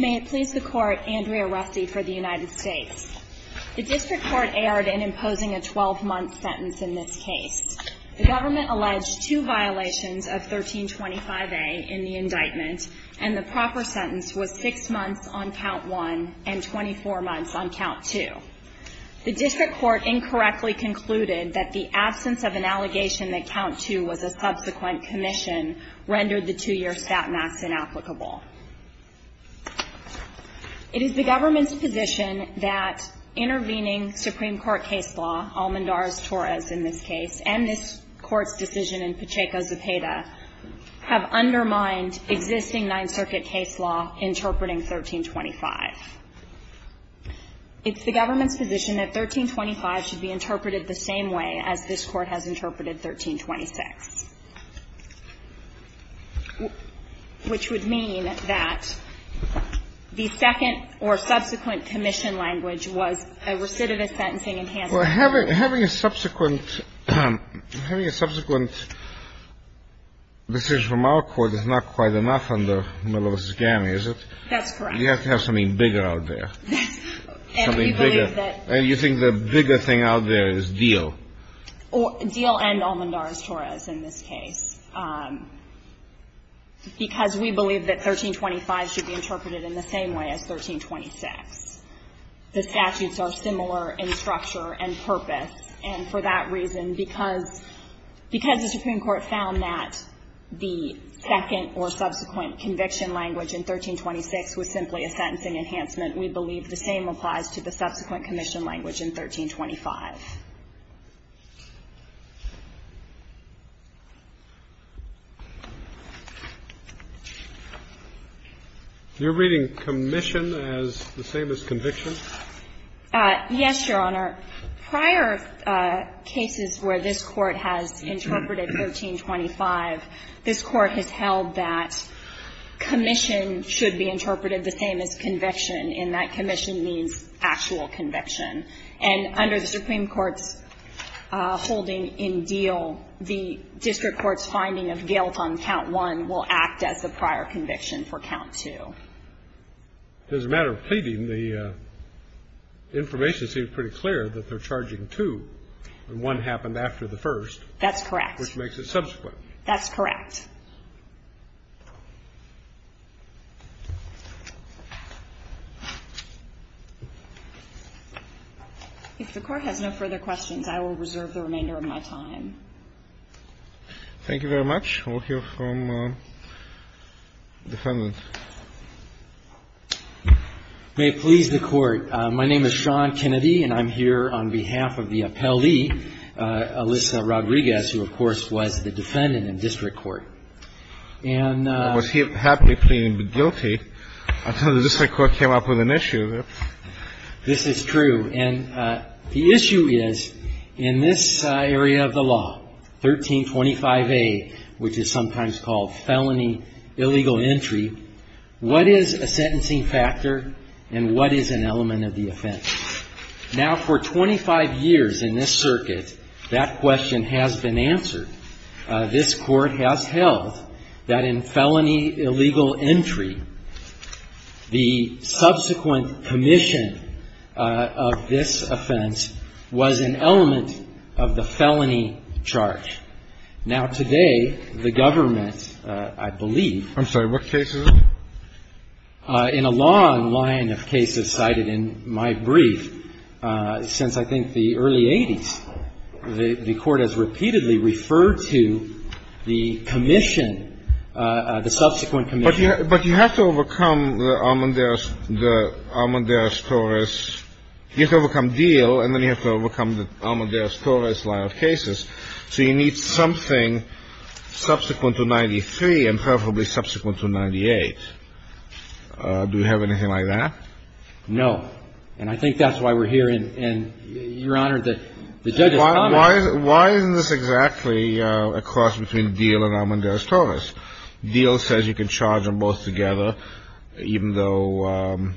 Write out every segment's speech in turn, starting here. May it please the Court, Andrea Rusty for the United States. The District Court erred in imposing a 12-month sentence in this case. The government alleged two violations of 1325A in the indictment, and the proper sentence was six months on count one and 24 months on count two. The District Court incorrectly concluded that the absence of an allegation that count two was a subsequent commission rendered the two-year statements inapplicable. It is the government's position that intervening Supreme Court case law, Almendar's Torres in this case, and this Court's decision in Pacheco's Zepeda, have undermined existing Ninth Circuit case law interpreting 1325. It's the government's position that 1325 should be interpreted the same way as this Court has interpreted 1326, which would mean that the second or subsequent commission language was a recidivist sentencing enhancement. Having a subsequent decision from our Court is not quite enough under Miller v. Ganni, is it? That's correct. You have to have something bigger out there, something bigger. And you think the bigger thing out there is Diehl. Diehl and Almendar's Torres in this case, because we believe that 1325 should be interpreted in the same way as 1326. The statutes are similar in structure and purpose, and for that reason, because the Supreme Court found that the second or subsequent conviction language in 1326 was simply a sentencing enhancement, we believe the same applies to the subsequent commission language in 1325. You're reading commission as the same as conviction? Yes, Your Honor. Prior cases where this Court has interpreted 1325, this Court has held that commission should be interpreted the same as conviction, and that commission means actual conviction. And under the Supreme Court's holding in Diehl, the district court's finding of guilt on count one will act as the prior conviction for count two. As a matter of pleading, the information seems pretty clear that they're charging two, and one happened after the first. That's correct. Which makes it subsequent. That's correct. If the Court has no further questions, I will reserve the remainder of my time. Thank you very much. We'll hear from the defendant. May it please the Court. My name is Sean Kennedy, and I'm here on behalf of the appellee, Alyssa Rodriguez, who, of course, was the defendant in district court. And was he happily pleading guilty until the district court came up with an issue. This is true. And the issue is, in this area of the law, 1325A, which is sometimes called felony illegal entry, what is a sentencing factor and what is an element of the offense? Now, for 25 years in this circuit, that question has been answered. This Court has held that in felony illegal entry, the subsequent commission of this offense was an element of the felony charge. Now, today, the government, I believe ---- I'm sorry. What cases? In a long line of cases cited in my brief, since I think the early 80s, the Court has repeatedly referred to the commission, the subsequent commission. But you have to overcome the Armanderas-Torres ---- you have to overcome Diehl, and then you have to overcome the Armanderas-Torres line of cases. So you need something subsequent to 93 and preferably subsequent to 98. Do you have anything like that? No. And I think that's why we're here. And, Your Honor, the judge has commented ---- Why isn't this exactly a cross between Diehl and Armanderas-Torres? Diehl says you can charge them both together, even though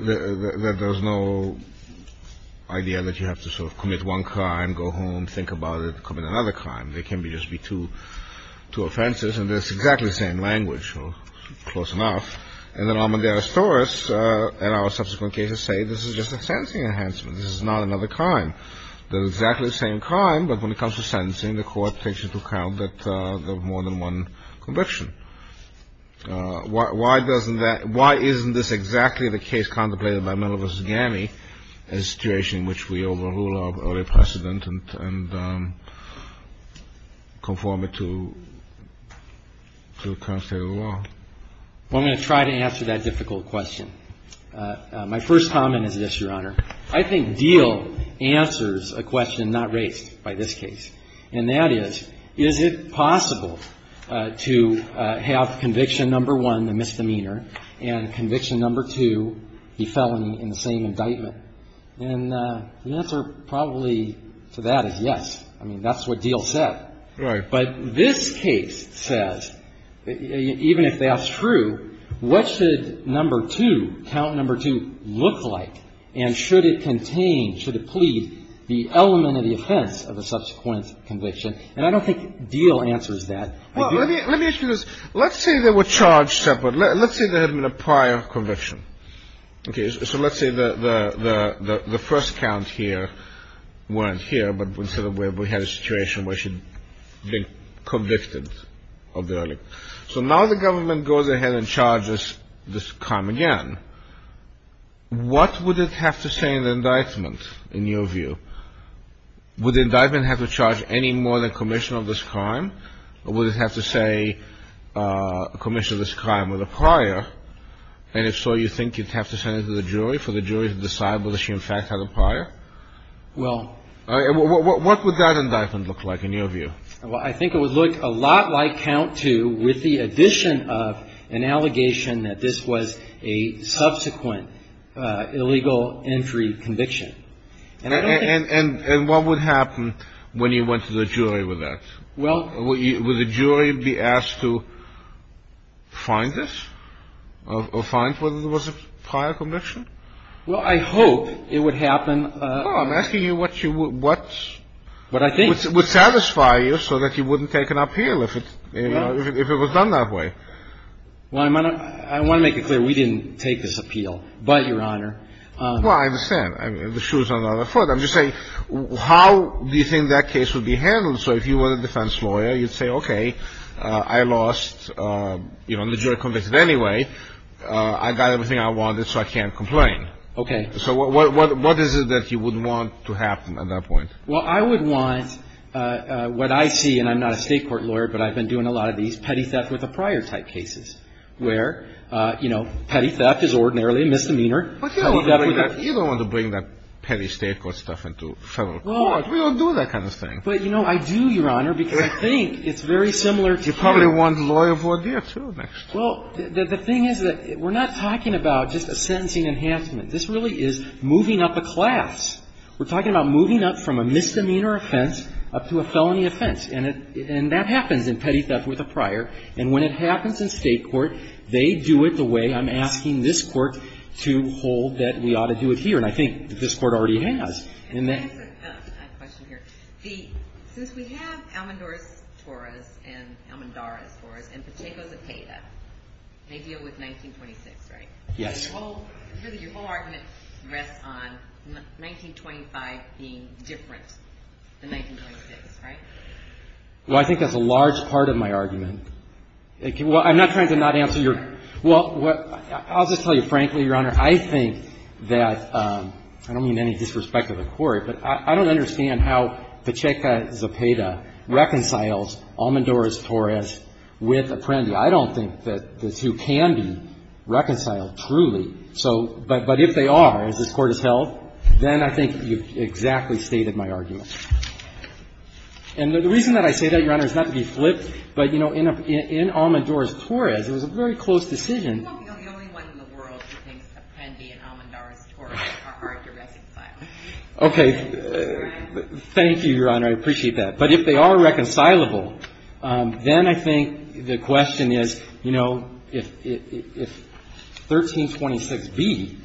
there's no idea that you have to sort of commit one crime, go home, think about it, commit another crime. They can just be two offenses, and it's exactly the same language, or close enough. And then Armanderas-Torres and our subsequent cases say this is just a sentencing enhancement. This is not another crime. They're exactly the same crime, but when it comes to sentencing, the Court takes into account that there are more than one conviction. Why doesn't that ---- why isn't this exactly the case contemplated by Miller v. Gammey as a situation in which we overrule our early precedent and conform it to the current state of the law? Well, I'm going to try to answer that difficult question. My first comment is this, Your Honor. I think Diehl answers a question not raised by this case, and that is, is it possible to have conviction number one, the misdemeanor, and conviction number two, the felony, in the same indictment? And the answer probably to that is yes. I mean, that's what Diehl said. Right. But this case says, even if that's true, what should number two, count number two, look like, and should it contain, should it plead, the element of the offense of a subsequent conviction? And I don't think Diehl answers that. Well, let me ask you this. Let's say they were charged separately. Let's say there had been a prior conviction. Okay. So let's say the first count here weren't here, but instead of where we had a situation where she'd been convicted of the early. So now the government goes ahead and charges this crime again. What would it have to say in the indictment, in your view? Would the indictment have to charge any more than commission of this crime, or would it have to say commission of this crime with a prior? And if so, you think you'd have to send it to the jury for the jury to decide whether she in fact had a prior? Well. What would that indictment look like, in your view? Well, I think it would look a lot like count two with the addition of an allegation that this was a subsequent illegal entry conviction. And I don't think. And what would happen when you went to the jury with that? Well. Would the jury be asked to find this or find whether there was a prior conviction? Well, I hope it would happen. Well, I'm asking you what you would, what's. What I think. Would satisfy you so that you wouldn't take an appeal if it, you know, if it was done that way. Well, I want to make it clear we didn't take this appeal. But, Your Honor. Well, I understand. The shoe's on the other foot. I'm just saying how do you think that case would be handled? So if you were a defense lawyer, you'd say, okay, I lost, you know, the jury convicted anyway. I got everything I wanted, so I can't complain. Okay. So what is it that you would want to happen at that point? Well, I would want what I see, and I'm not a state court lawyer, but I've been doing a lot of these petty theft with a prior type cases where, you know, petty theft is ordinarily a misdemeanor. But you don't want to bring that petty state court stuff into federal court. We don't do that kind of thing. But, you know, I do, Your Honor, because I think it's very similar to. You probably want lawyer of ordeal, too, next. Well, the thing is that we're not talking about just a sentencing enhancement. This really is moving up a class. We're talking about moving up from a misdemeanor offense up to a felony offense. And that happens in petty theft with a prior. And when it happens in state court, they do it the way I'm asking this court to hold that we ought to do it here. And I think that this court already has. And that's a question here. The, since we have Almondora's Taurus and Pacheco's Apeda, they deal with 1926, right? Yes. Your whole argument rests on 1925 being different than 1926, right? Well, I think that's a large part of my argument. Well, I'm not trying to not answer your. Well, I'll just tell you frankly, Your Honor, I think that, I don't mean any disrespect to the court, but I don't understand how Pacheco's Apeda reconciles Almondora's Taurus with Apprendi. I don't think that the two can be reconciled truly. So, but if they are, as this court has held, then I think you've exactly stated my argument. And the reason that I say that, Your Honor, is not to be flippant, but, you know, in Almondora's Taurus, it was a very close decision. You're not the only one in the world who thinks Appendi and Almondora's Taurus are hard to reconcile. Okay. Thank you, Your Honor. I appreciate that. But if they are reconcilable, then I think the question is, you know, if 1326B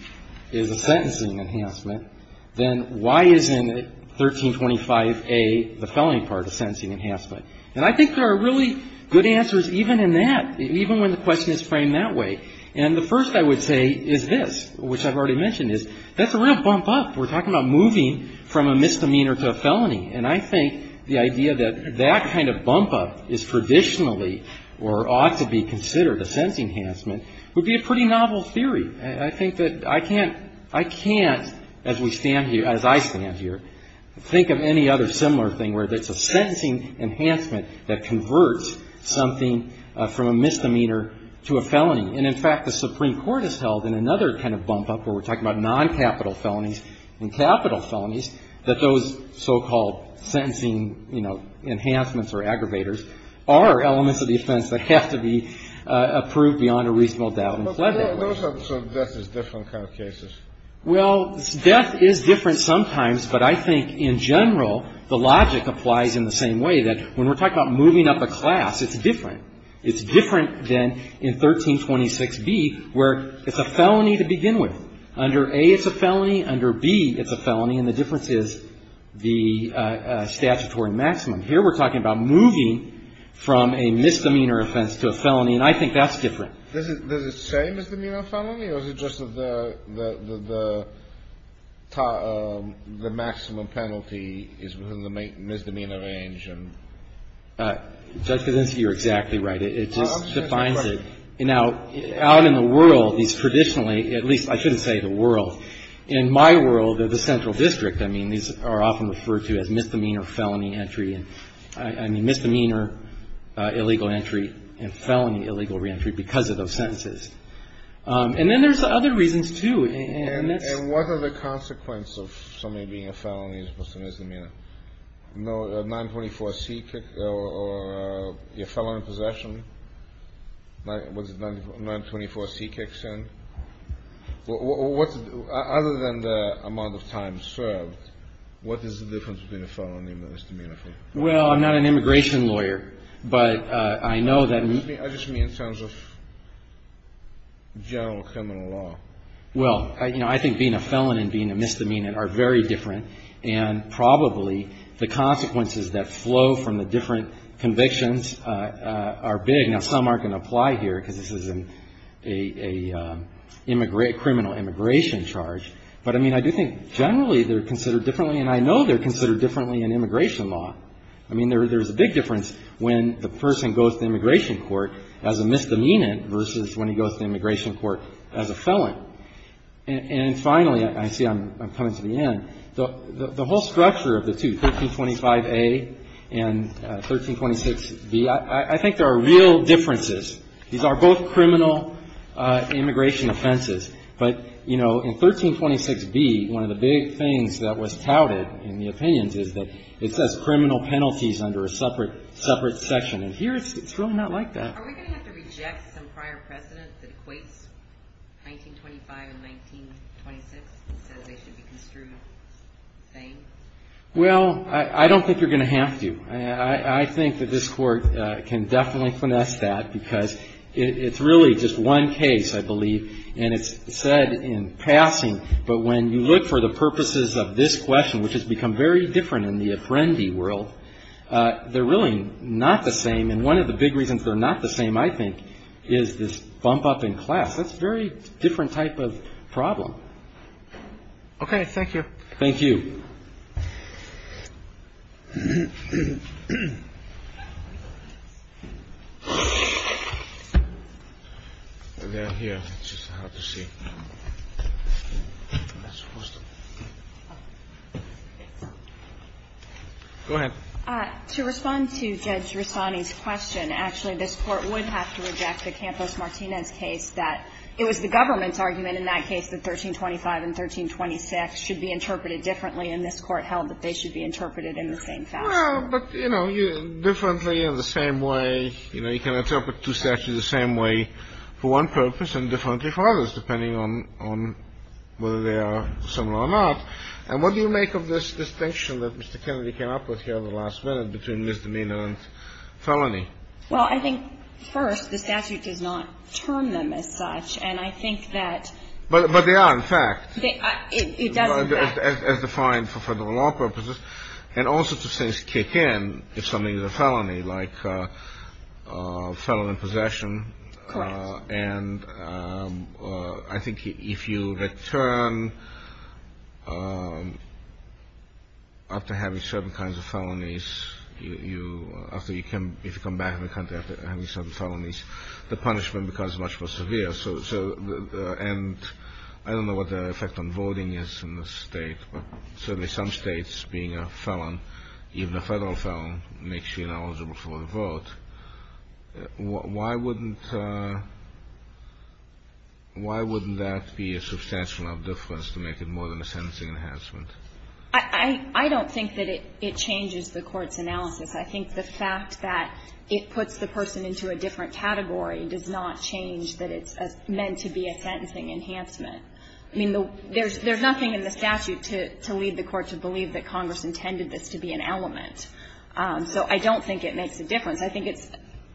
is a sentencing enhancement, then why isn't 1325A, the felony part, a sentencing enhancement? And I think there are really good answers even in that, even when the question is framed that way. And the first, I would say, is this, which I've already mentioned, is that's a real bump up. We're talking about moving from a misdemeanor to a felony. And I think the idea that that kind of bump up is traditionally, or ought to be considered a sentencing enhancement, would be a pretty novel theory. And I think that I can't, as we stand here, as I stand here, think of any other similar thing where it's a sentencing enhancement that converts something from a misdemeanor to a felony. And, in fact, the Supreme Court has held in another kind of bump up where we're talking about noncapital felonies and capital felonies, that those so-called sentencing, you know, enhancements or aggravators are elements of the offense that have to be approved beyond a reasonable doubt and fled that way. Well, those are sort of death is different kind of cases. Well, death is different sometimes, but I think, in general, the logic applies in the same way, that when we're talking about moving up a class, it's different. It's different than in 1326b, where it's a felony to begin with. Under a, it's a felony. Under b, it's a felony, and the difference is the statutory maximum. Here, we're talking about moving from a misdemeanor offense to a felony, and I think that's different. This is the same as the misdemeanor felony, or is it just that the maximum penalty is within the misdemeanor range? Judge Kudinski, you're exactly right. It just defines it. Now, out in the world, these traditionally, at least I shouldn't say the world, in my world of the central district, I mean, these are often referred to as misdemeanor felony entry and, I mean, misdemeanor illegal entry and felony illegal re-entry because of those sentences. And then there's other reasons, too, and that's… And what are the consequences of somebody being a felony as opposed to misdemeanor? A 924c kick, or you're a felon in possession, what's it, 924c kicks in? Well, what's, other than the amount of time served, what is the difference between a felony and a misdemeanor? Well, I'm not an immigration lawyer, but I know that… I just mean in terms of general criminal law. Well, you know, I think being a felon and being a misdemeanor are very different, and probably the consequences that flow from the different convictions are big. Now, some aren't going to apply here because this is a criminal immigration charge, but, I mean, I do think generally they're considered differently, and I know they're considered differently in immigration law. I mean, there's a big difference when the person goes to immigration court as a misdemeanor versus when he goes to immigration court as a felon. And finally, I see I'm coming to the end, the whole structure of the two, 1325a and 1326b, I think there are real differences. These are both criminal immigration offenses, but, you know, in 1326b, one of the big things that was touted in the opinions is that it says criminal penalties under a separate section, and here it's really not like that. Are we going to have to reject some prior precedent that equates 1925 and 1926 and says they should be construed the same? Well, I don't think you're going to have to. I think that this court can definitely finesse that because it's really just one case, I believe, and it's said in passing, but when you look for the purposes of this question, which has become very different in the Apprendi world, they're really not the same, and one of the big reasons they're not the same, I think, is this bump up in class. That's a very different type of problem. Okay, thank you. Thank you. Go ahead. To respond to Judge Rossani's question, actually, this Court would have to reject the Campos-Martinez case that it was the government's argument in that case that 1325 and 1326 should be interpreted differently, and this Court held that they should be interpreted in the same fashion. Well, but, you know, differently, in the same way, you know, you can interpret two statutes the same way for one purpose and differently for others, depending on whether they are similar or not, and what do you make of this distinction that Mr. Kennedy came up with here at the last minute between misdemeanor and felony? Well, I think, first, the statute does not term them as such, and I think that But they are, in fact. It does, in fact. As defined for the law purposes, and all sorts of things kick in if something is a felony, like a felon in possession. Correct. And I think if you return after having certain kinds of felonies, you, after you can, if you come back to the country after having certain felonies, the punishment becomes much more severe. So, and I don't know what the effect on voting is in this state, but certainly some states being a felon, even a federal felon, makes you ineligible for a vote. Why wouldn't that be a substantial enough difference to make it more than a sentencing enhancement? I don't think that it changes the Court's analysis. I think the fact that it puts the person into a different category does not change that it's meant to be a sentencing enhancement. I mean, there's nothing in the statute to lead the Court to believe that Congress intended this to be an element. So I don't think it makes a difference. I think it's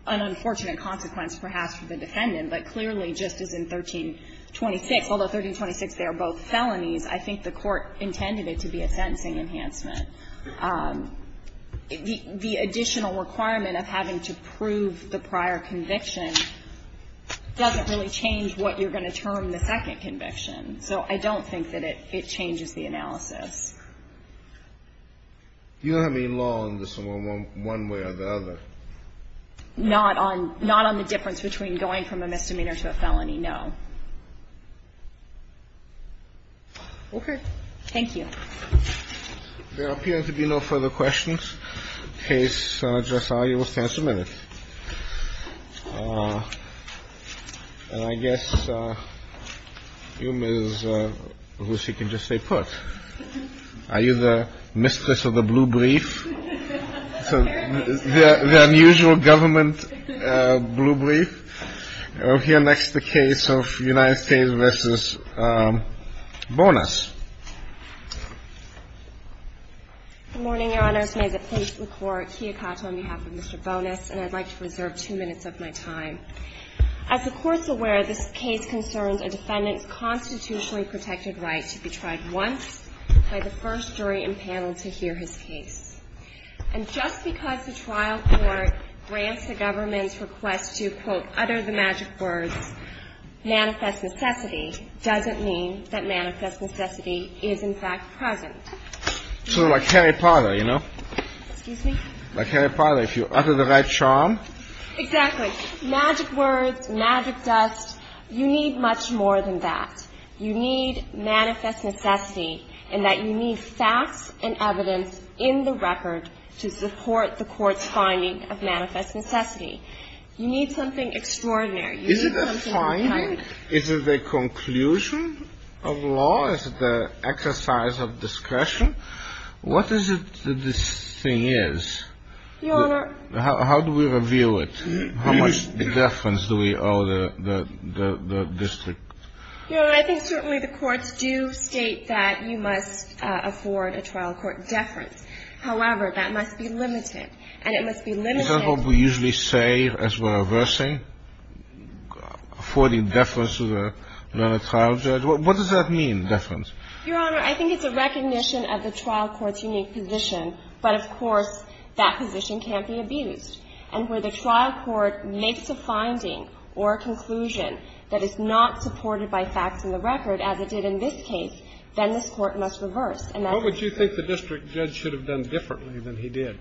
an unfortunate consequence, perhaps, for the defendant, but clearly just as in 1326, although 1326, they are both felonies, I think the Court intended it to be a sentencing enhancement. The additional requirement of having to prove the prior conviction doesn't really change what you're going to term the second conviction. So I don't think that it changes the analysis. You don't have any law on this one way or the other? Not on the difference between going from a misdemeanor to a felony, no. Okay. Thank you. There appears to be no further questions. Case, Justice Alito, will stand submitted. And I guess you, Ms. Roussea, can just say put. Are you the mistress of the blue brief? The unusual government blue brief? We'll hear next the case of United States v. Bonas. Good morning, Your Honor. First, may the plaintiff record Kiyokato on behalf of Mr. Bonas, and I'd like to reserve two minutes of my time. As the Court's aware, this case concerns a defendant's constitutionally protected right to be tried once by the first jury and panel to hear his case. And just because the trial court grants the government's request to, quote, utter the magic words, manifest necessity, doesn't mean that manifest necessity is, in fact, present. So like Harry Potter, you know? Excuse me? Like Harry Potter, if you utter the right charm. Exactly. Magic words, magic dust. You need much more than that. You need manifest necessity in that you need facts and evidence in the record to support the Court's finding of manifest necessity. You need something extraordinary. Is it the finding? Is it the conclusion of law? Is it the exercise of discretion? What is it that this thing is? Your Honor. How do we review it? How much deference do we owe the district? Your Honor, I think certainly the courts do state that you must afford a trial court deference. However, that must be limited, and it must be limited. Is that what we usually say as we're reversing? Affording deference to the trial judge? What does that mean, deference? Your Honor, I think it's a recognition of the trial court's unique position. But, of course, that position can't be abused. And where the trial court makes a finding or a conclusion that is not supported by facts and the record, as it did in this case, then this Court must reverse. What would you think the district judge should have done differently than he did?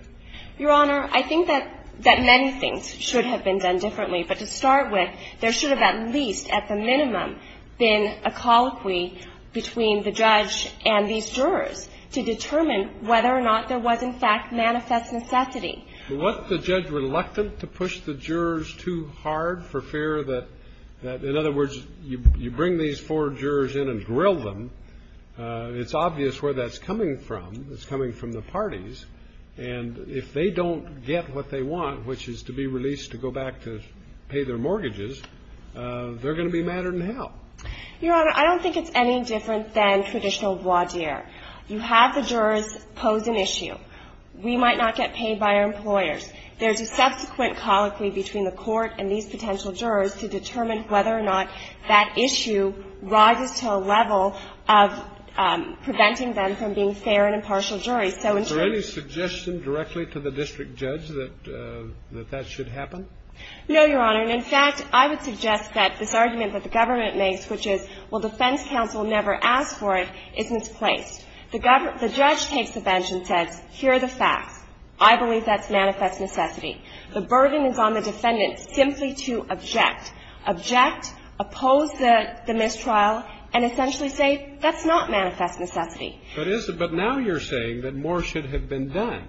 Your Honor, I think that many things should have been done differently. But to start with, there should have at least, at the minimum, been a colloquy between the judge and these jurors to determine whether or not there was, in fact, manifest necessity. But wasn't the judge reluctant to push the jurors too hard for fear that, in other words, you bring these four jurors in and grill them? It's obvious where that's coming from. It's coming from the parties. And if they don't get what they want, which is to be released to go back to pay their mortgages, they're going to be madder than hell. Your Honor, I don't think it's any different than traditional voir dire. You have the jurors pose an issue. We might not get paid by our employers. There's a subsequent colloquy between the court and these potential jurors to determine whether or not that issue rises to a level of preventing them from being fair and impartial juries. Is there any suggestion directly to the district judge that that should happen? No, Your Honor. And, in fact, I would suggest that this argument that the government makes, which is, well, defense counsel never asked for it, is misplaced. The judge takes the bench and says, here are the facts. I believe that's manifest necessity. The burden is on the defendant simply to object, object, oppose the mistrial, and essentially say, that's not manifest necessity. But now you're saying that more should have been done.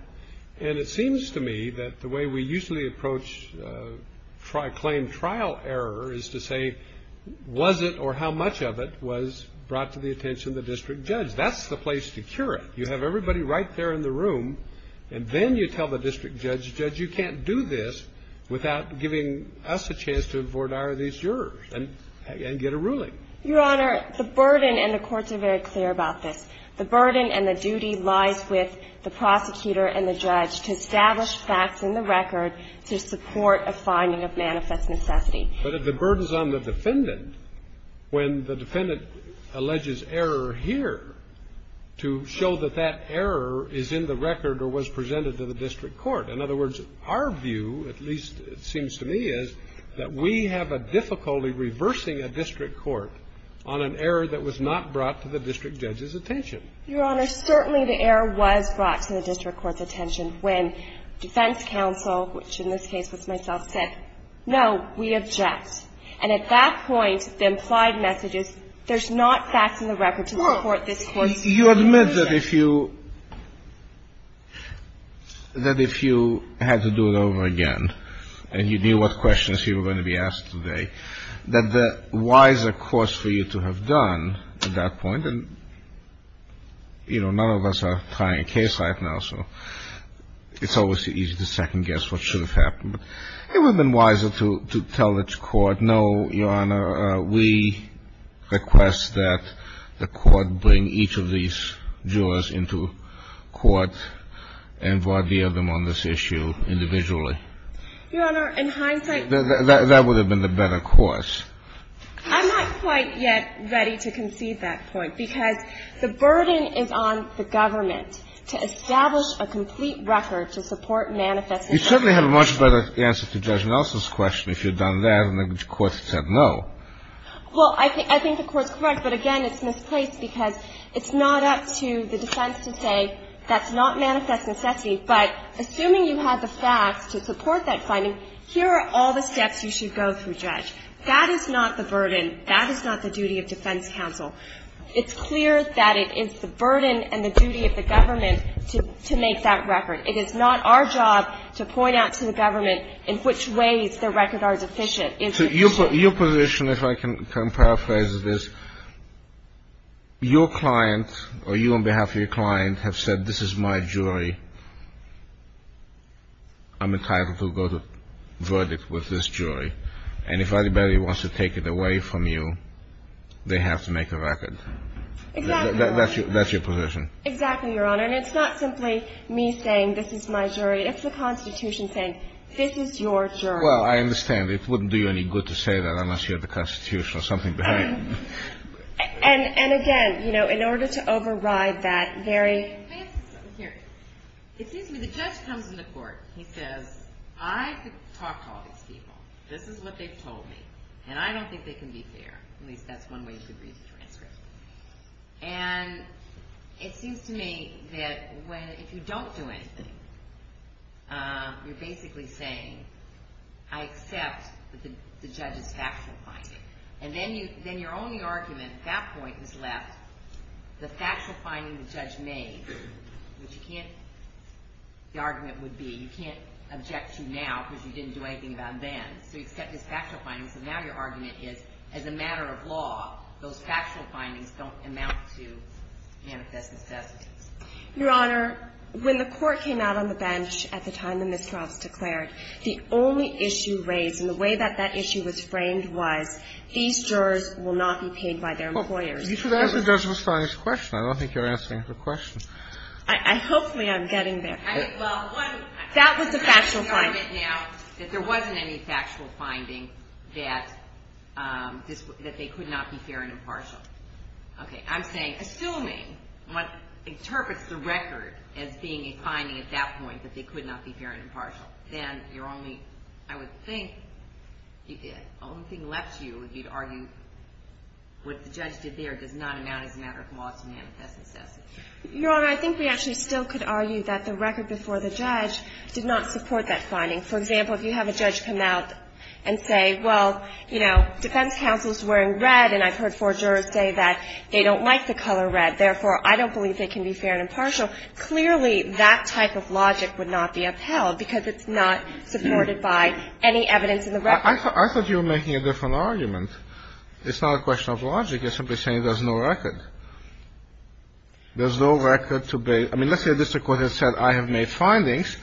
And it seems to me that the way we usually approach claim trial error is to say was it or how much of it was brought to the attention of the district judge. That's the place to cure it. You have everybody right there in the room, and then you tell the district judge, judge, you can't do this without giving us a chance to voir dire these jurors and get a ruling. Your Honor, the burden and the courts are very clear about this. The burden and the duty lies with the prosecutor and the judge to establish facts in the record to support a finding of manifest necessity. But the burden is on the defendant when the defendant alleges error here to show that that error is in the record or was presented to the district court. In other words, our view, at least it seems to me, is that we have a difficulty reversing a district court on an error that was not brought to the district judge's attention. Your Honor, certainly the error was brought to the district court's attention when defense counsel, which in this case was myself, said, no, we object. And at that point, the implied message is there's not facts in the record to support this court's opinion. You admit that if you had to do it over again and you knew what questions you were going to be asked today, that the wiser course for you to have done at that point and, you know, none of us are trying a case right now, so it's always easy to second guess what should have happened. It would have been wiser to tell the court, no, Your Honor, we request that the court bring each of these jurors into court and voir dire them on this issue individually. Your Honor, in hindsight... That would have been the better course. I'm not quite yet ready to concede that point because the burden is on the government to establish a complete record to support manifest necessity. You certainly have a much better answer to Judge Nelson's question if you had done that and the court said no. Well, I think the court's correct, but again, it's misplaced because it's not up to the defense to say that's not manifest necessity. But assuming you had the facts to support that finding, here are all the steps you should go through, Judge. That is not the burden. That is not the duty of defense counsel. It's clear that it is the burden and the duty of the government to make that record. It is not our job to point out to the government in which ways the record are sufficient. So your position, if I can paraphrase this, your client or you on behalf of your client have said this is my jury, I'm entitled to go to verdict with this jury. And if anybody wants to take it away from you, they have to make a record. Exactly, Your Honor. That's your position. Exactly, Your Honor. And it's not simply me saying this is my jury. It's the Constitution saying this is your jury. Well, I understand. It wouldn't do you any good to say that unless you had the Constitution or something behind it. And again, you know, in order to override that very... Let me ask you something here. It seems to me the judge comes into court. He says, I could talk to all these people. This is what they've told me. And I don't think they can be fair. At least that's one way you could read the transcript. And it seems to me that if you don't do anything, you're basically saying, I accept that the judge is factual about it. And then your only argument at that point is left the factual finding the judge made, which you can't... The argument would be you can't object to now because you didn't do anything about then. So you accept his factual findings, and now your argument is as a matter of law, those factual findings don't amount to manifest necessities. Your Honor, when the court came out on the bench at the time the miscronts declared, the only issue raised and the way that that issue was framed was, these jurors will not be paid by their employers. You should ask the judge a response to the question. I don't think you're asking her a question. I hope I'm getting there. That was a factual finding. There wasn't any factual finding that they could not be fair and impartial. Okay. I'm saying assuming what interprets the record as being a finding at that point, that they could not be fair and impartial, then your only, I would think, the only thing left to you would be to argue what the judge did there does not amount as a matter of law to manifest necessities. Your Honor, I think we actually still could argue that the record before the judge did not support that finding. For example, if you have a judge come out and say, well, you know, defense counsel is wearing red, and I've heard four jurors say that they don't like the color red, therefore I don't believe they can be fair and impartial. So clearly that type of logic would not be upheld because it's not supported by any evidence in the record. I thought you were making a different argument. It's not a question of logic. You're simply saying there's no record. There's no record to base. I mean, let's say a district court has said I have made findings,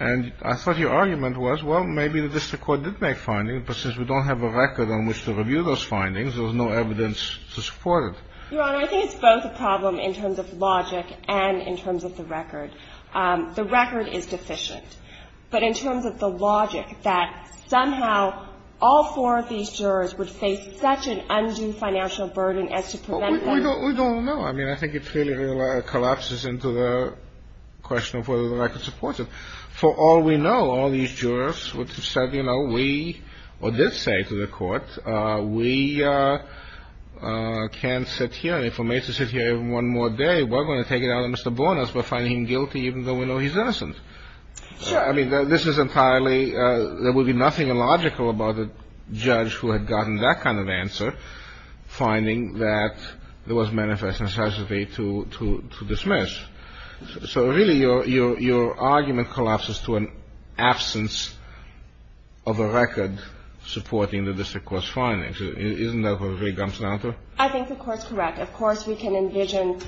and I thought your argument was, well, maybe the district court did make findings, but since we don't have a record on which to review those findings, there's no evidence to support it. Your Honor, I think it's both a problem in terms of logic and in terms of the record. The record is deficient. But in terms of the logic that somehow all four of these jurors would face such an undue financial burden as to prevent them. We don't know. I mean, I think it clearly collapses into the question of whether the record supports it. For all we know, all these jurors would have said, you know, we did say to the court, we can't sit here. If we're made to sit here one more day, we're going to take it out on Mr. Bornas for finding him guilty, even though we know he's innocent. I mean, this is entirely, there would be nothing illogical about a judge who had gotten that kind of answer, finding that there was manifest necessity to dismiss. So really, your argument collapses to an absence of a record supporting the district court's findings. Isn't that what it really jumps down to? I think the Court's correct. Of course, we can envision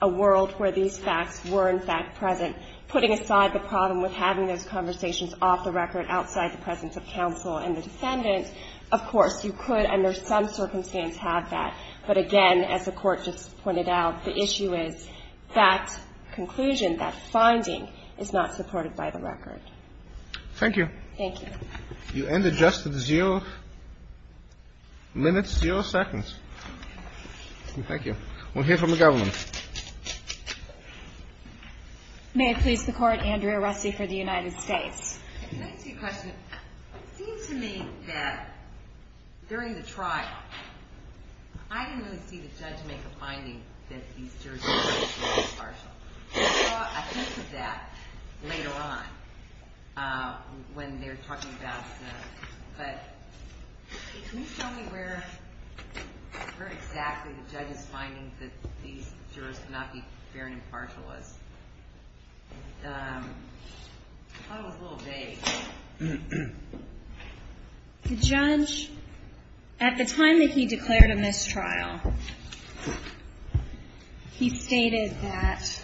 a world where these facts were, in fact, present. Putting aside the problem with having those conversations off the record, outside the presence of counsel and the defendant, of course, you could, under some circumstance, have that. But again, as the Court just pointed out, the issue is that conclusion, that finding, is not supported by the record. Thank you. Thank you. You end at just zero minutes, zero seconds. Thank you. We'll hear from the government. May it please the Court, Andrea Rusty for the United States. Can I ask you a question? It seems to me that during the trial, I didn't really see the judge make a finding that these jurors were partially impartial. I saw a hint of that later on when they were talking about the, but can you tell me where exactly the judge's finding that these jurors could not be fair and impartial was? I thought it was a little vague. The judge, at the time that he declared a mistrial, he stated that,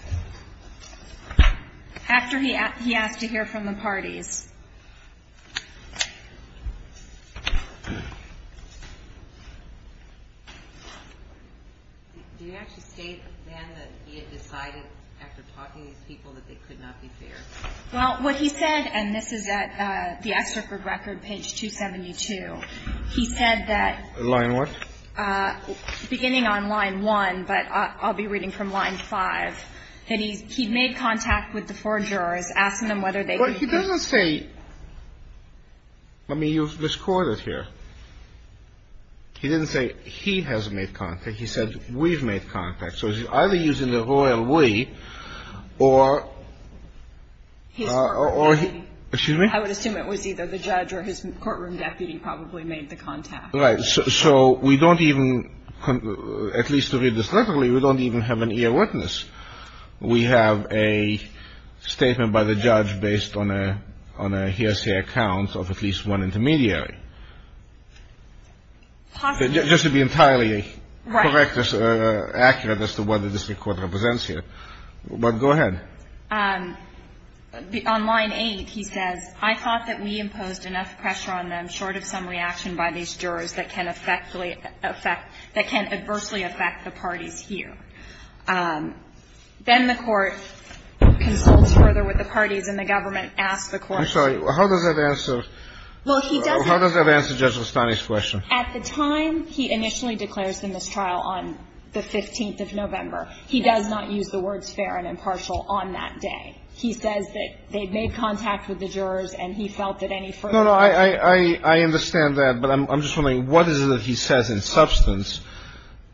after he asked to hear from the parties, that they could not be fair. Do you actually state then that he had decided, after talking to these people, that they could not be fair? Well, what he said, and this is at the extricate record, page 272, he said that... Line what? Beginning on line one, but I'll be reading from line five, that he made contact with the four jurors, asking them whether they could be fair. He doesn't say, I mean, you've discorded here. He didn't say he has made contact. He said we've made contact. So he's either using the royal we or... His courtroom deputy. Excuse me? I would assume it was either the judge or his courtroom deputy probably made the contact. Right. So we don't even, at least to read this literally, we don't even have an ear witness. We have a statement by the judge based on a hearsay account of at least one intermediary. Just to be entirely correct or accurate as to what the district court represents here. But go ahead. On line eight, he says, I thought that we imposed enough pressure on them, short of some reaction by these jurors that can adversely affect the parties here. Then the court consults further with the parties, and the government asks the court to... I'm sorry. How does that answer... Well, he doesn't... How does that answer Judge Lestani's question? At the time he initially declares the mistrial on the 15th of November, he does not use the words fair and impartial on that day. He says that they made contact with the jurors, and he felt that any further... No, no. I understand that. But I'm just wondering, what is it that he says in substance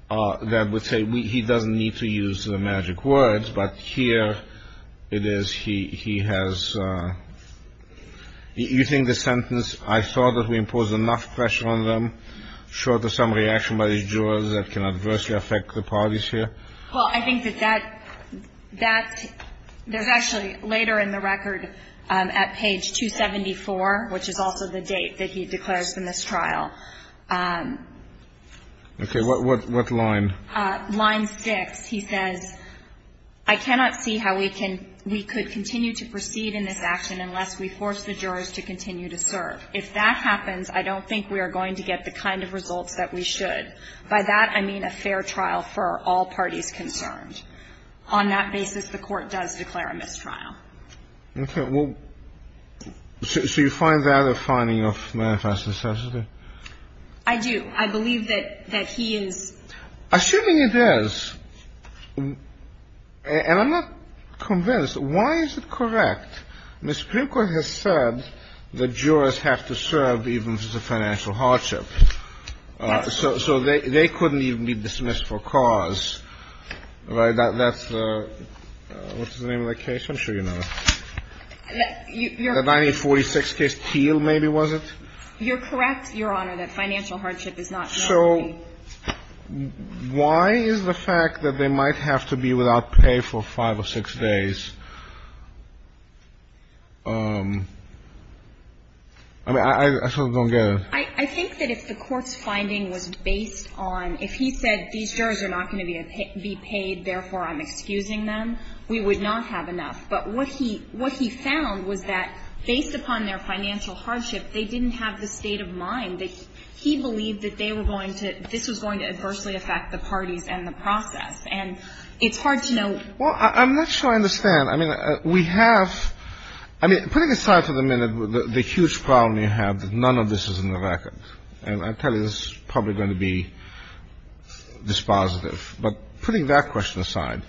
that would say he doesn't need to use the magic words, but here it is he has... You think the sentence, I thought that we imposed enough pressure on them, short of some reaction by these jurors that can adversely affect the parties here? Well, I think that that's... There's actually later in the record at page 274, which is also the date that he declares the mistrial, Okay, what line? Line 6. He says, I cannot see how we could continue to proceed in this action unless we force the jurors to continue to serve. If that happens, I don't think we are going to get the kind of results that we should. By that, I mean a fair trial for all parties concerned. On that basis, the court does declare a mistrial. Okay. So you find that a finding of manifest necessity? I do. I believe that he is... Assuming it is, and I'm not convinced, why is it correct? The Supreme Court has said the jurors have to serve even if it's a financial hardship. So they couldn't even be dismissed for cause. That's the... What's the name of that case? I'm sure you know that. The 1946 case, Teal maybe was it? You're correct, Your Honor, that financial hardship is not... So, why is the fact that they might have to be without pay for 5 or 6 days? I mean, I sort of don't get it. I think that if the court's finding was based on, if he said, these jurors are not going to be paid, therefore I'm excusing them, we would not have enough. But what he found was that, based upon their financial hardship, they didn't have the state of mind that he believed that they were going to, this was going to adversely affect the parties and the process. And it's hard to know... Well, I'm not sure I understand. I mean, we have... I mean, putting aside for the minute the huge problem you have, that none of this is in the record. And I tell you, this is probably going to be dispositive. But putting that question aside,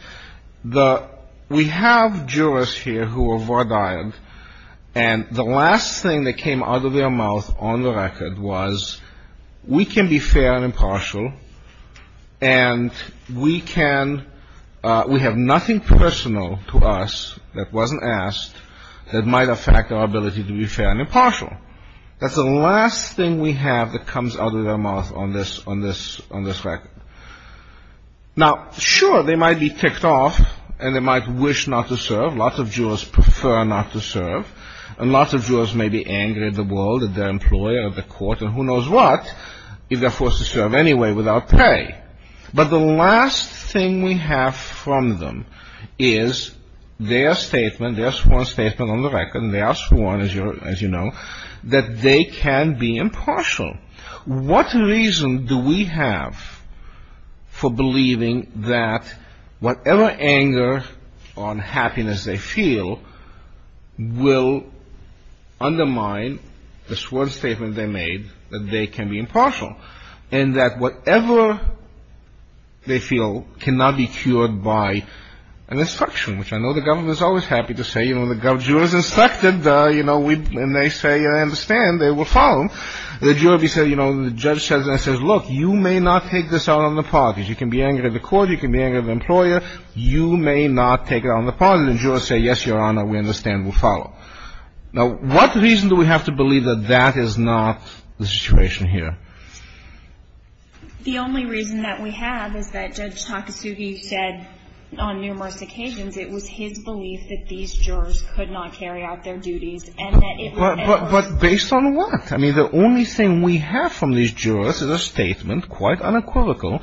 the... We have jurors here who were vardyed, and the last thing that came out of their mouth on the record was, we can be fair and impartial, and we can... We have nothing personal to us that wasn't asked that might affect our ability to be fair and impartial. That's the last thing we have that comes out of their mouth on this, on this, on this record. Now, sure, they might be ticked off, and they might wish not to serve. Lots of jurors prefer not to serve. And lots of jurors may be angry at the world, at their employer, at the court, and who knows what, if they're forced to serve anyway without pay. But the last thing we have from them is their statement, their sworn statement on the record, and they are sworn, as you know, that they can be impartial. What reason do we have for believing that whatever anger or unhappiness they feel will undermine the sworn statement they made that they can be impartial and that whatever they feel cannot be cured by an instruction, which I know the government is always happy to say, you know, the jurors instructed, you know, and they say, I understand, they will follow. The jury says, you know, the judge says, look, you may not take this out on the parties. You can be angry at the court, you can be angry at the employer, you may not take it out on the parties. And the jurors say, yes, Your Honor, we understand, we'll follow. Now, what reason do we have to believe that that is not the situation here? The only reason that we have is that Judge Takasugi said on numerous occasions, it was his belief that these jurors could not carry out their duties and that it would never... But based on what? I mean, the only thing we have from these jurors is a statement, quite unequivocal,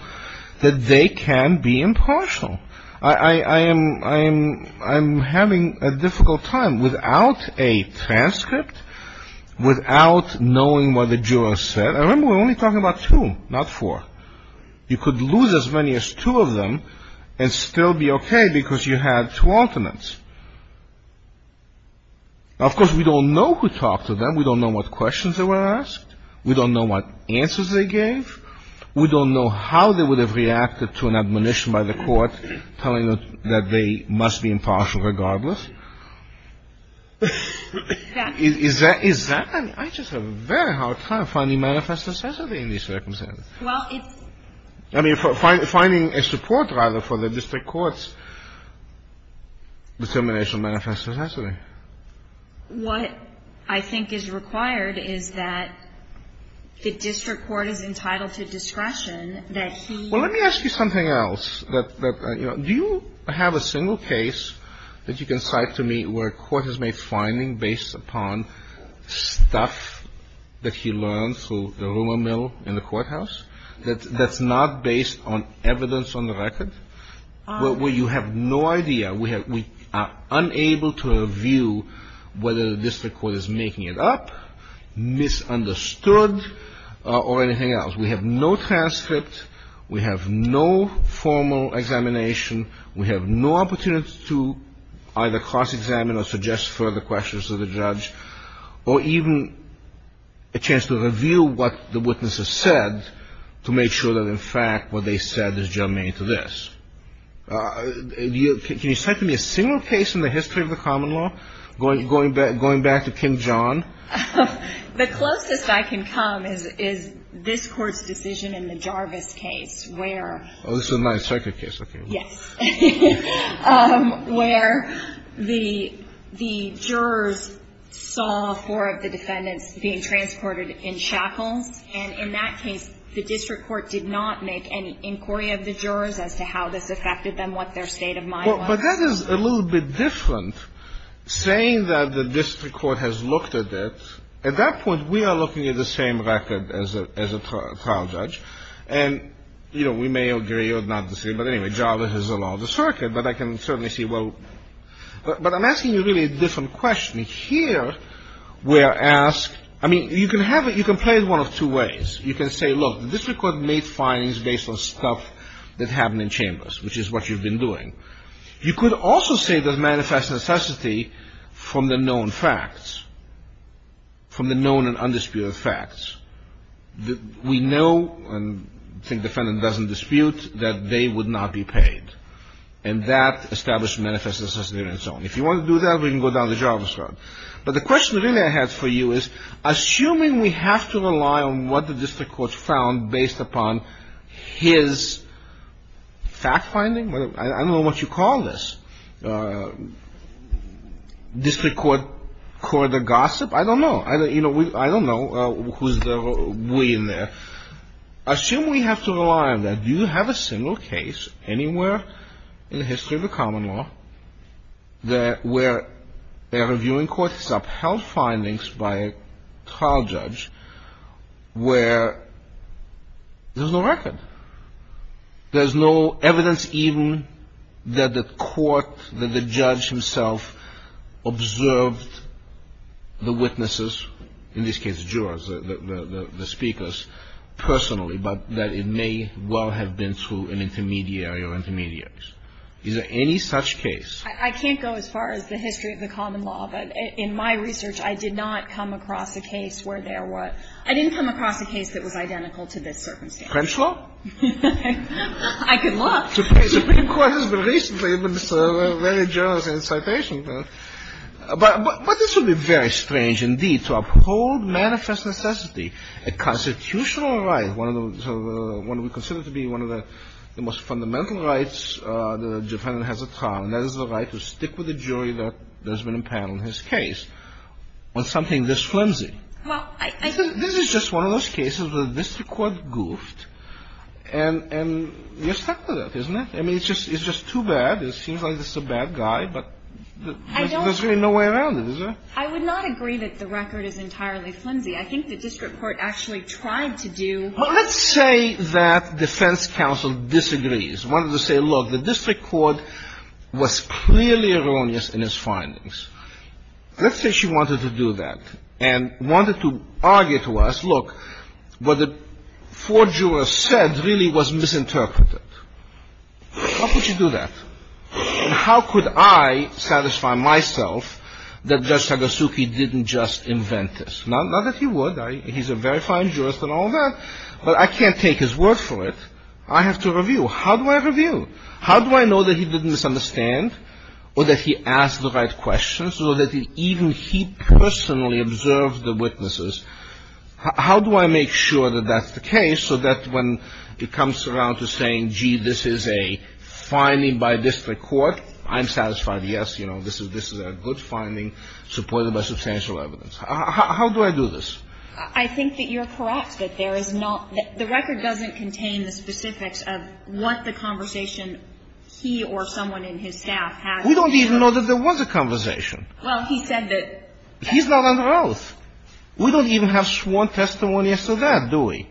that they can be impartial. I'm having a difficult time without a transcript, without knowing what the jurors said. And remember, we're only talking about two, not four. You could lose as many as two of them and still be okay because you had two ultimates. Now, of course, we don't know who talked to them. We don't know what questions they were asked. We don't know what answers they gave. We don't know how they would have reacted to an admonition by the court telling them that they must be impartial regardless. Is that... I just have a very hard time finding manifest necessity in these circumstances. Well, it's... I mean, finding a support, rather, for the district court's determination of manifest necessity. What I think is required is that the district court is entitled to discretion that he... Well, let me ask you something else. Do you have a single case that you can cite to me where a court has made findings based upon stuff that he learned through the rumor mill in the courthouse that's not based on evidence on the record? Where you have no idea, we are unable to review whether the district court is making it up, misunderstood, or anything like that. We have no transcript. We have no formal examination. We have no opportunity to either cross-examine or suggest further questions to the judge or even a chance to reveal what the witnesses said to make sure that, in fact, what they said is germane to this. Can you cite to me a single case in the history of the common law going back to King John? The closest I can come is this court's decision in the Jarvis case where Oh, this is my second case, okay. Yes. Um, where the jurors saw four of the defendants being transported in shackles and in that case the district court did not make any inquiry of the jurors as to how this affected them, what their state of mind was. But that is a little bit different saying that the district court has looked at it. At that point we are looking at the same record as a trial judge and you know, we may agree or not disagree but anyway, Jarvis is a law of the circuit but I can certainly see well but I'm asking you really a different question. Here we're asked I mean you can have it you can play it one of two ways. You can say look, the district court made findings based on stuff that happened in chambers which is what you've been doing. You could also say that manifests necessity from the known facts from the known and undisputed facts. We know and I think the defendant doesn't dispute that they would not be paid and that established manifest necessity on its own. If you want to do that we can go down to Jarvis. But the question really I have for you is assuming we have to rely on what the district court found based upon his fact finding I don't know what you call this district court court of gossip I don't know I don't know who's the we in there assume we have to rely on that do you have a single case anywhere in the history of the common law that a reviewing court has upheld findings by a trial judge where there's no record there's no evidence even that the court that the district court found that the judge himself observed the witnesses in this case jurors the speakers personally but that it may well have been through an intermediary or intermediates is there any such case I can't go as far as the history of the common law but in my research I did not come across a case where there was I didn't come across a case that was identical to this circumstance French law I can look the Supreme Court has been recently it's a very generous incitation but but this would be very strange indeed to uphold manifest necessity a constitutional right one of the one we consider to be one of the most fundamental rights the defendant has a trial and that is the right to stick with the jury that there's been a panel in his case on something this flimsy this is just one of those cases where the district court goofed and and you're stuck with it isn't it I mean it's just it's just too bad it seems like this is a bad guy but there's really no way around it is there I would not agree that the record is entirely flimsy I think the district court actually tried to do well let's say that defense counsel disagrees wanted to say look the district court was clearly erroneous in his findings let's say she wanted to do that and wanted to argue to us look what the four jurors said really was misinterpreted how could you do that and how could I satisfy myself that Judge Sagasuki didn't just invent this not that he would he's a very fine jurist and all that but I can't take his word for it I have to review how do I review how do I know that he didn't misunderstand or that he asked the right questions or that even he personally observed the witnesses how do I make sure that that's the case so that when it comes around to saying gee this is a finding by district court I'm satisfied yes you know this is a good finding supported by substantial evidence how do I do this I think that you're correct that there is not the record doesn't contain the specifics of what the conversation he or someone in his staff had we don't even know that there was a conversation well he said that he's not under oath we don't even have sworn testimony so that do we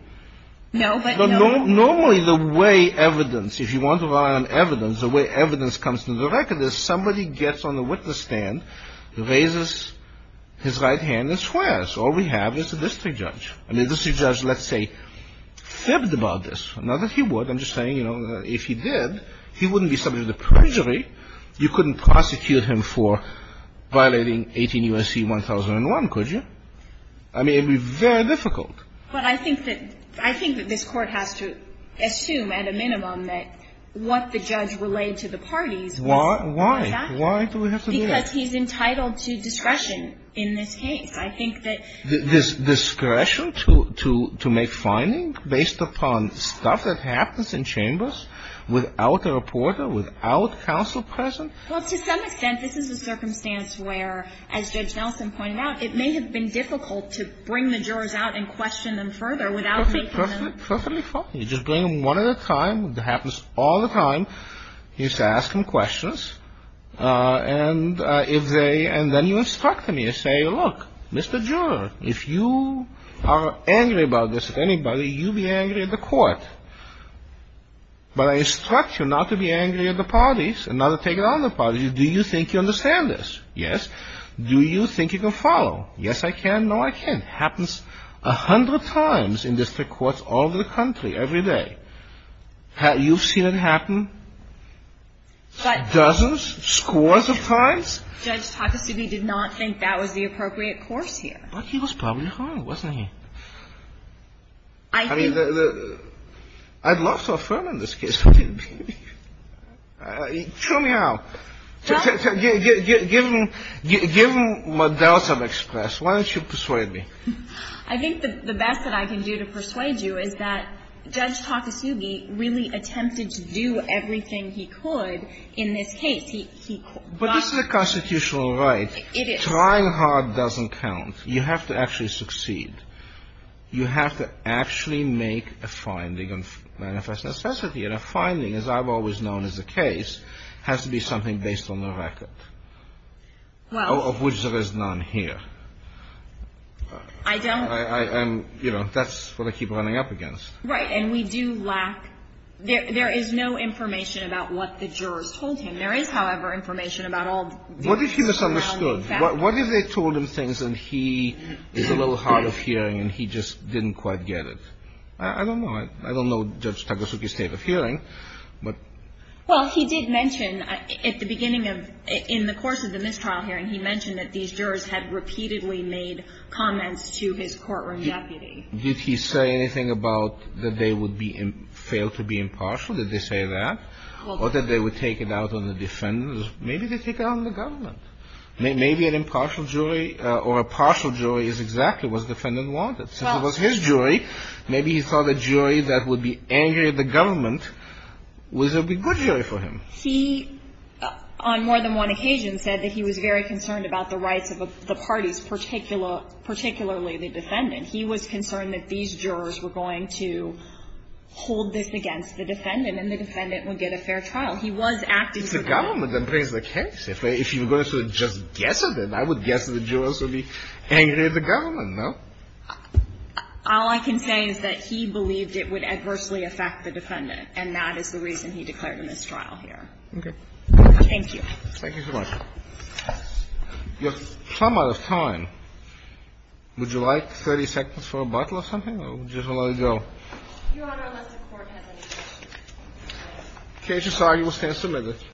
no but normally the way the evidence if you want to rely on evidence the way evidence comes to the record is somebody gets on the witness stand raises his right hand and swears all we have is the district judge and the district judge let's say fibbed about this not that he would I'm just saying if he did he wouldn't be subject to perjury you couldn't prosecute him for violating 18 U.S.C. 1001 could you I mean it would be very difficult but I think that I think that this court has to assume at a minimum that what the judge relayed to the parties was that why why do we have to do that because he's entitled to discretion in this case I think that this discretion to make finding based upon stuff that happens in chambers without a reporter without counsel present well to some extent this is a circumstance where as Judge Nelson pointed out it may have been difficult to bring the jurors out and question them further without taking them perfectly fine you just bring them one at a time it happens all the time you just ask them questions and if they and then you instruct them you say look Mr. Juror if you are angry about this at anybody you be angry at the court but I instruct you not to be angry at the parties and not to take it out on the parties do you think you understand this yes do you think you can follow yes I can no I can't it happens a hundred times in district courts all over the country every day have you seen it happen dozens scores of times Judge Takasugi did not think that was the appropriate fine wasn't he I mean I'd love to affirm in this case I mean show me how give him give him give him give him give him give him what else I've expressed why don't you persuade me I think that the best that I can do to persuade you is that Judge Takasugi really attempted to do everything he could in this case he but this is a constitutional right it is trying hard doesn't count you have to actually succeed you have to actually make a finding of manifest necessity and a finding as I've always known as the case has to be something based on the record of which there is none here I don't I am you know that's what I keep running up against right and we do lack there is no information about what the jurors told him there is however information about all what if he misunderstood what if they told him things and he is a little hard of hearing and he just didn't quite get it I don't know I don't know Judge Takasugi's state of hearing but he did mention at the beginning in the course of the mistrial hearing he mentioned that these jurors had repeatedly made comments to his courtroom deputy did he say anything about that they would fail to be impartial did they say that or that they would take it out on the defendants maybe they took it out on the government maybe an impartial jury or a partial jury is exactly what the defendant wanted since it was his opinion that the jury that would be angry at the government was a good jury for him he on more than one occasion said that he was very concerned about the rights of the parties particularly the defendant he was concerned that these jurors were going to hold this against the defendant and the defendant would get a fair trial so he was acting it's the government that brings the case if you were going to just guess it then I would guess the jurors would be angry at the government no? all I can say is that he believed it would adversely affect the defendant and that is the reason he declared a mistrial here thank you thank you your sum out of time would you like 30 seconds for a bottle or something or just let it go case is signed you will stand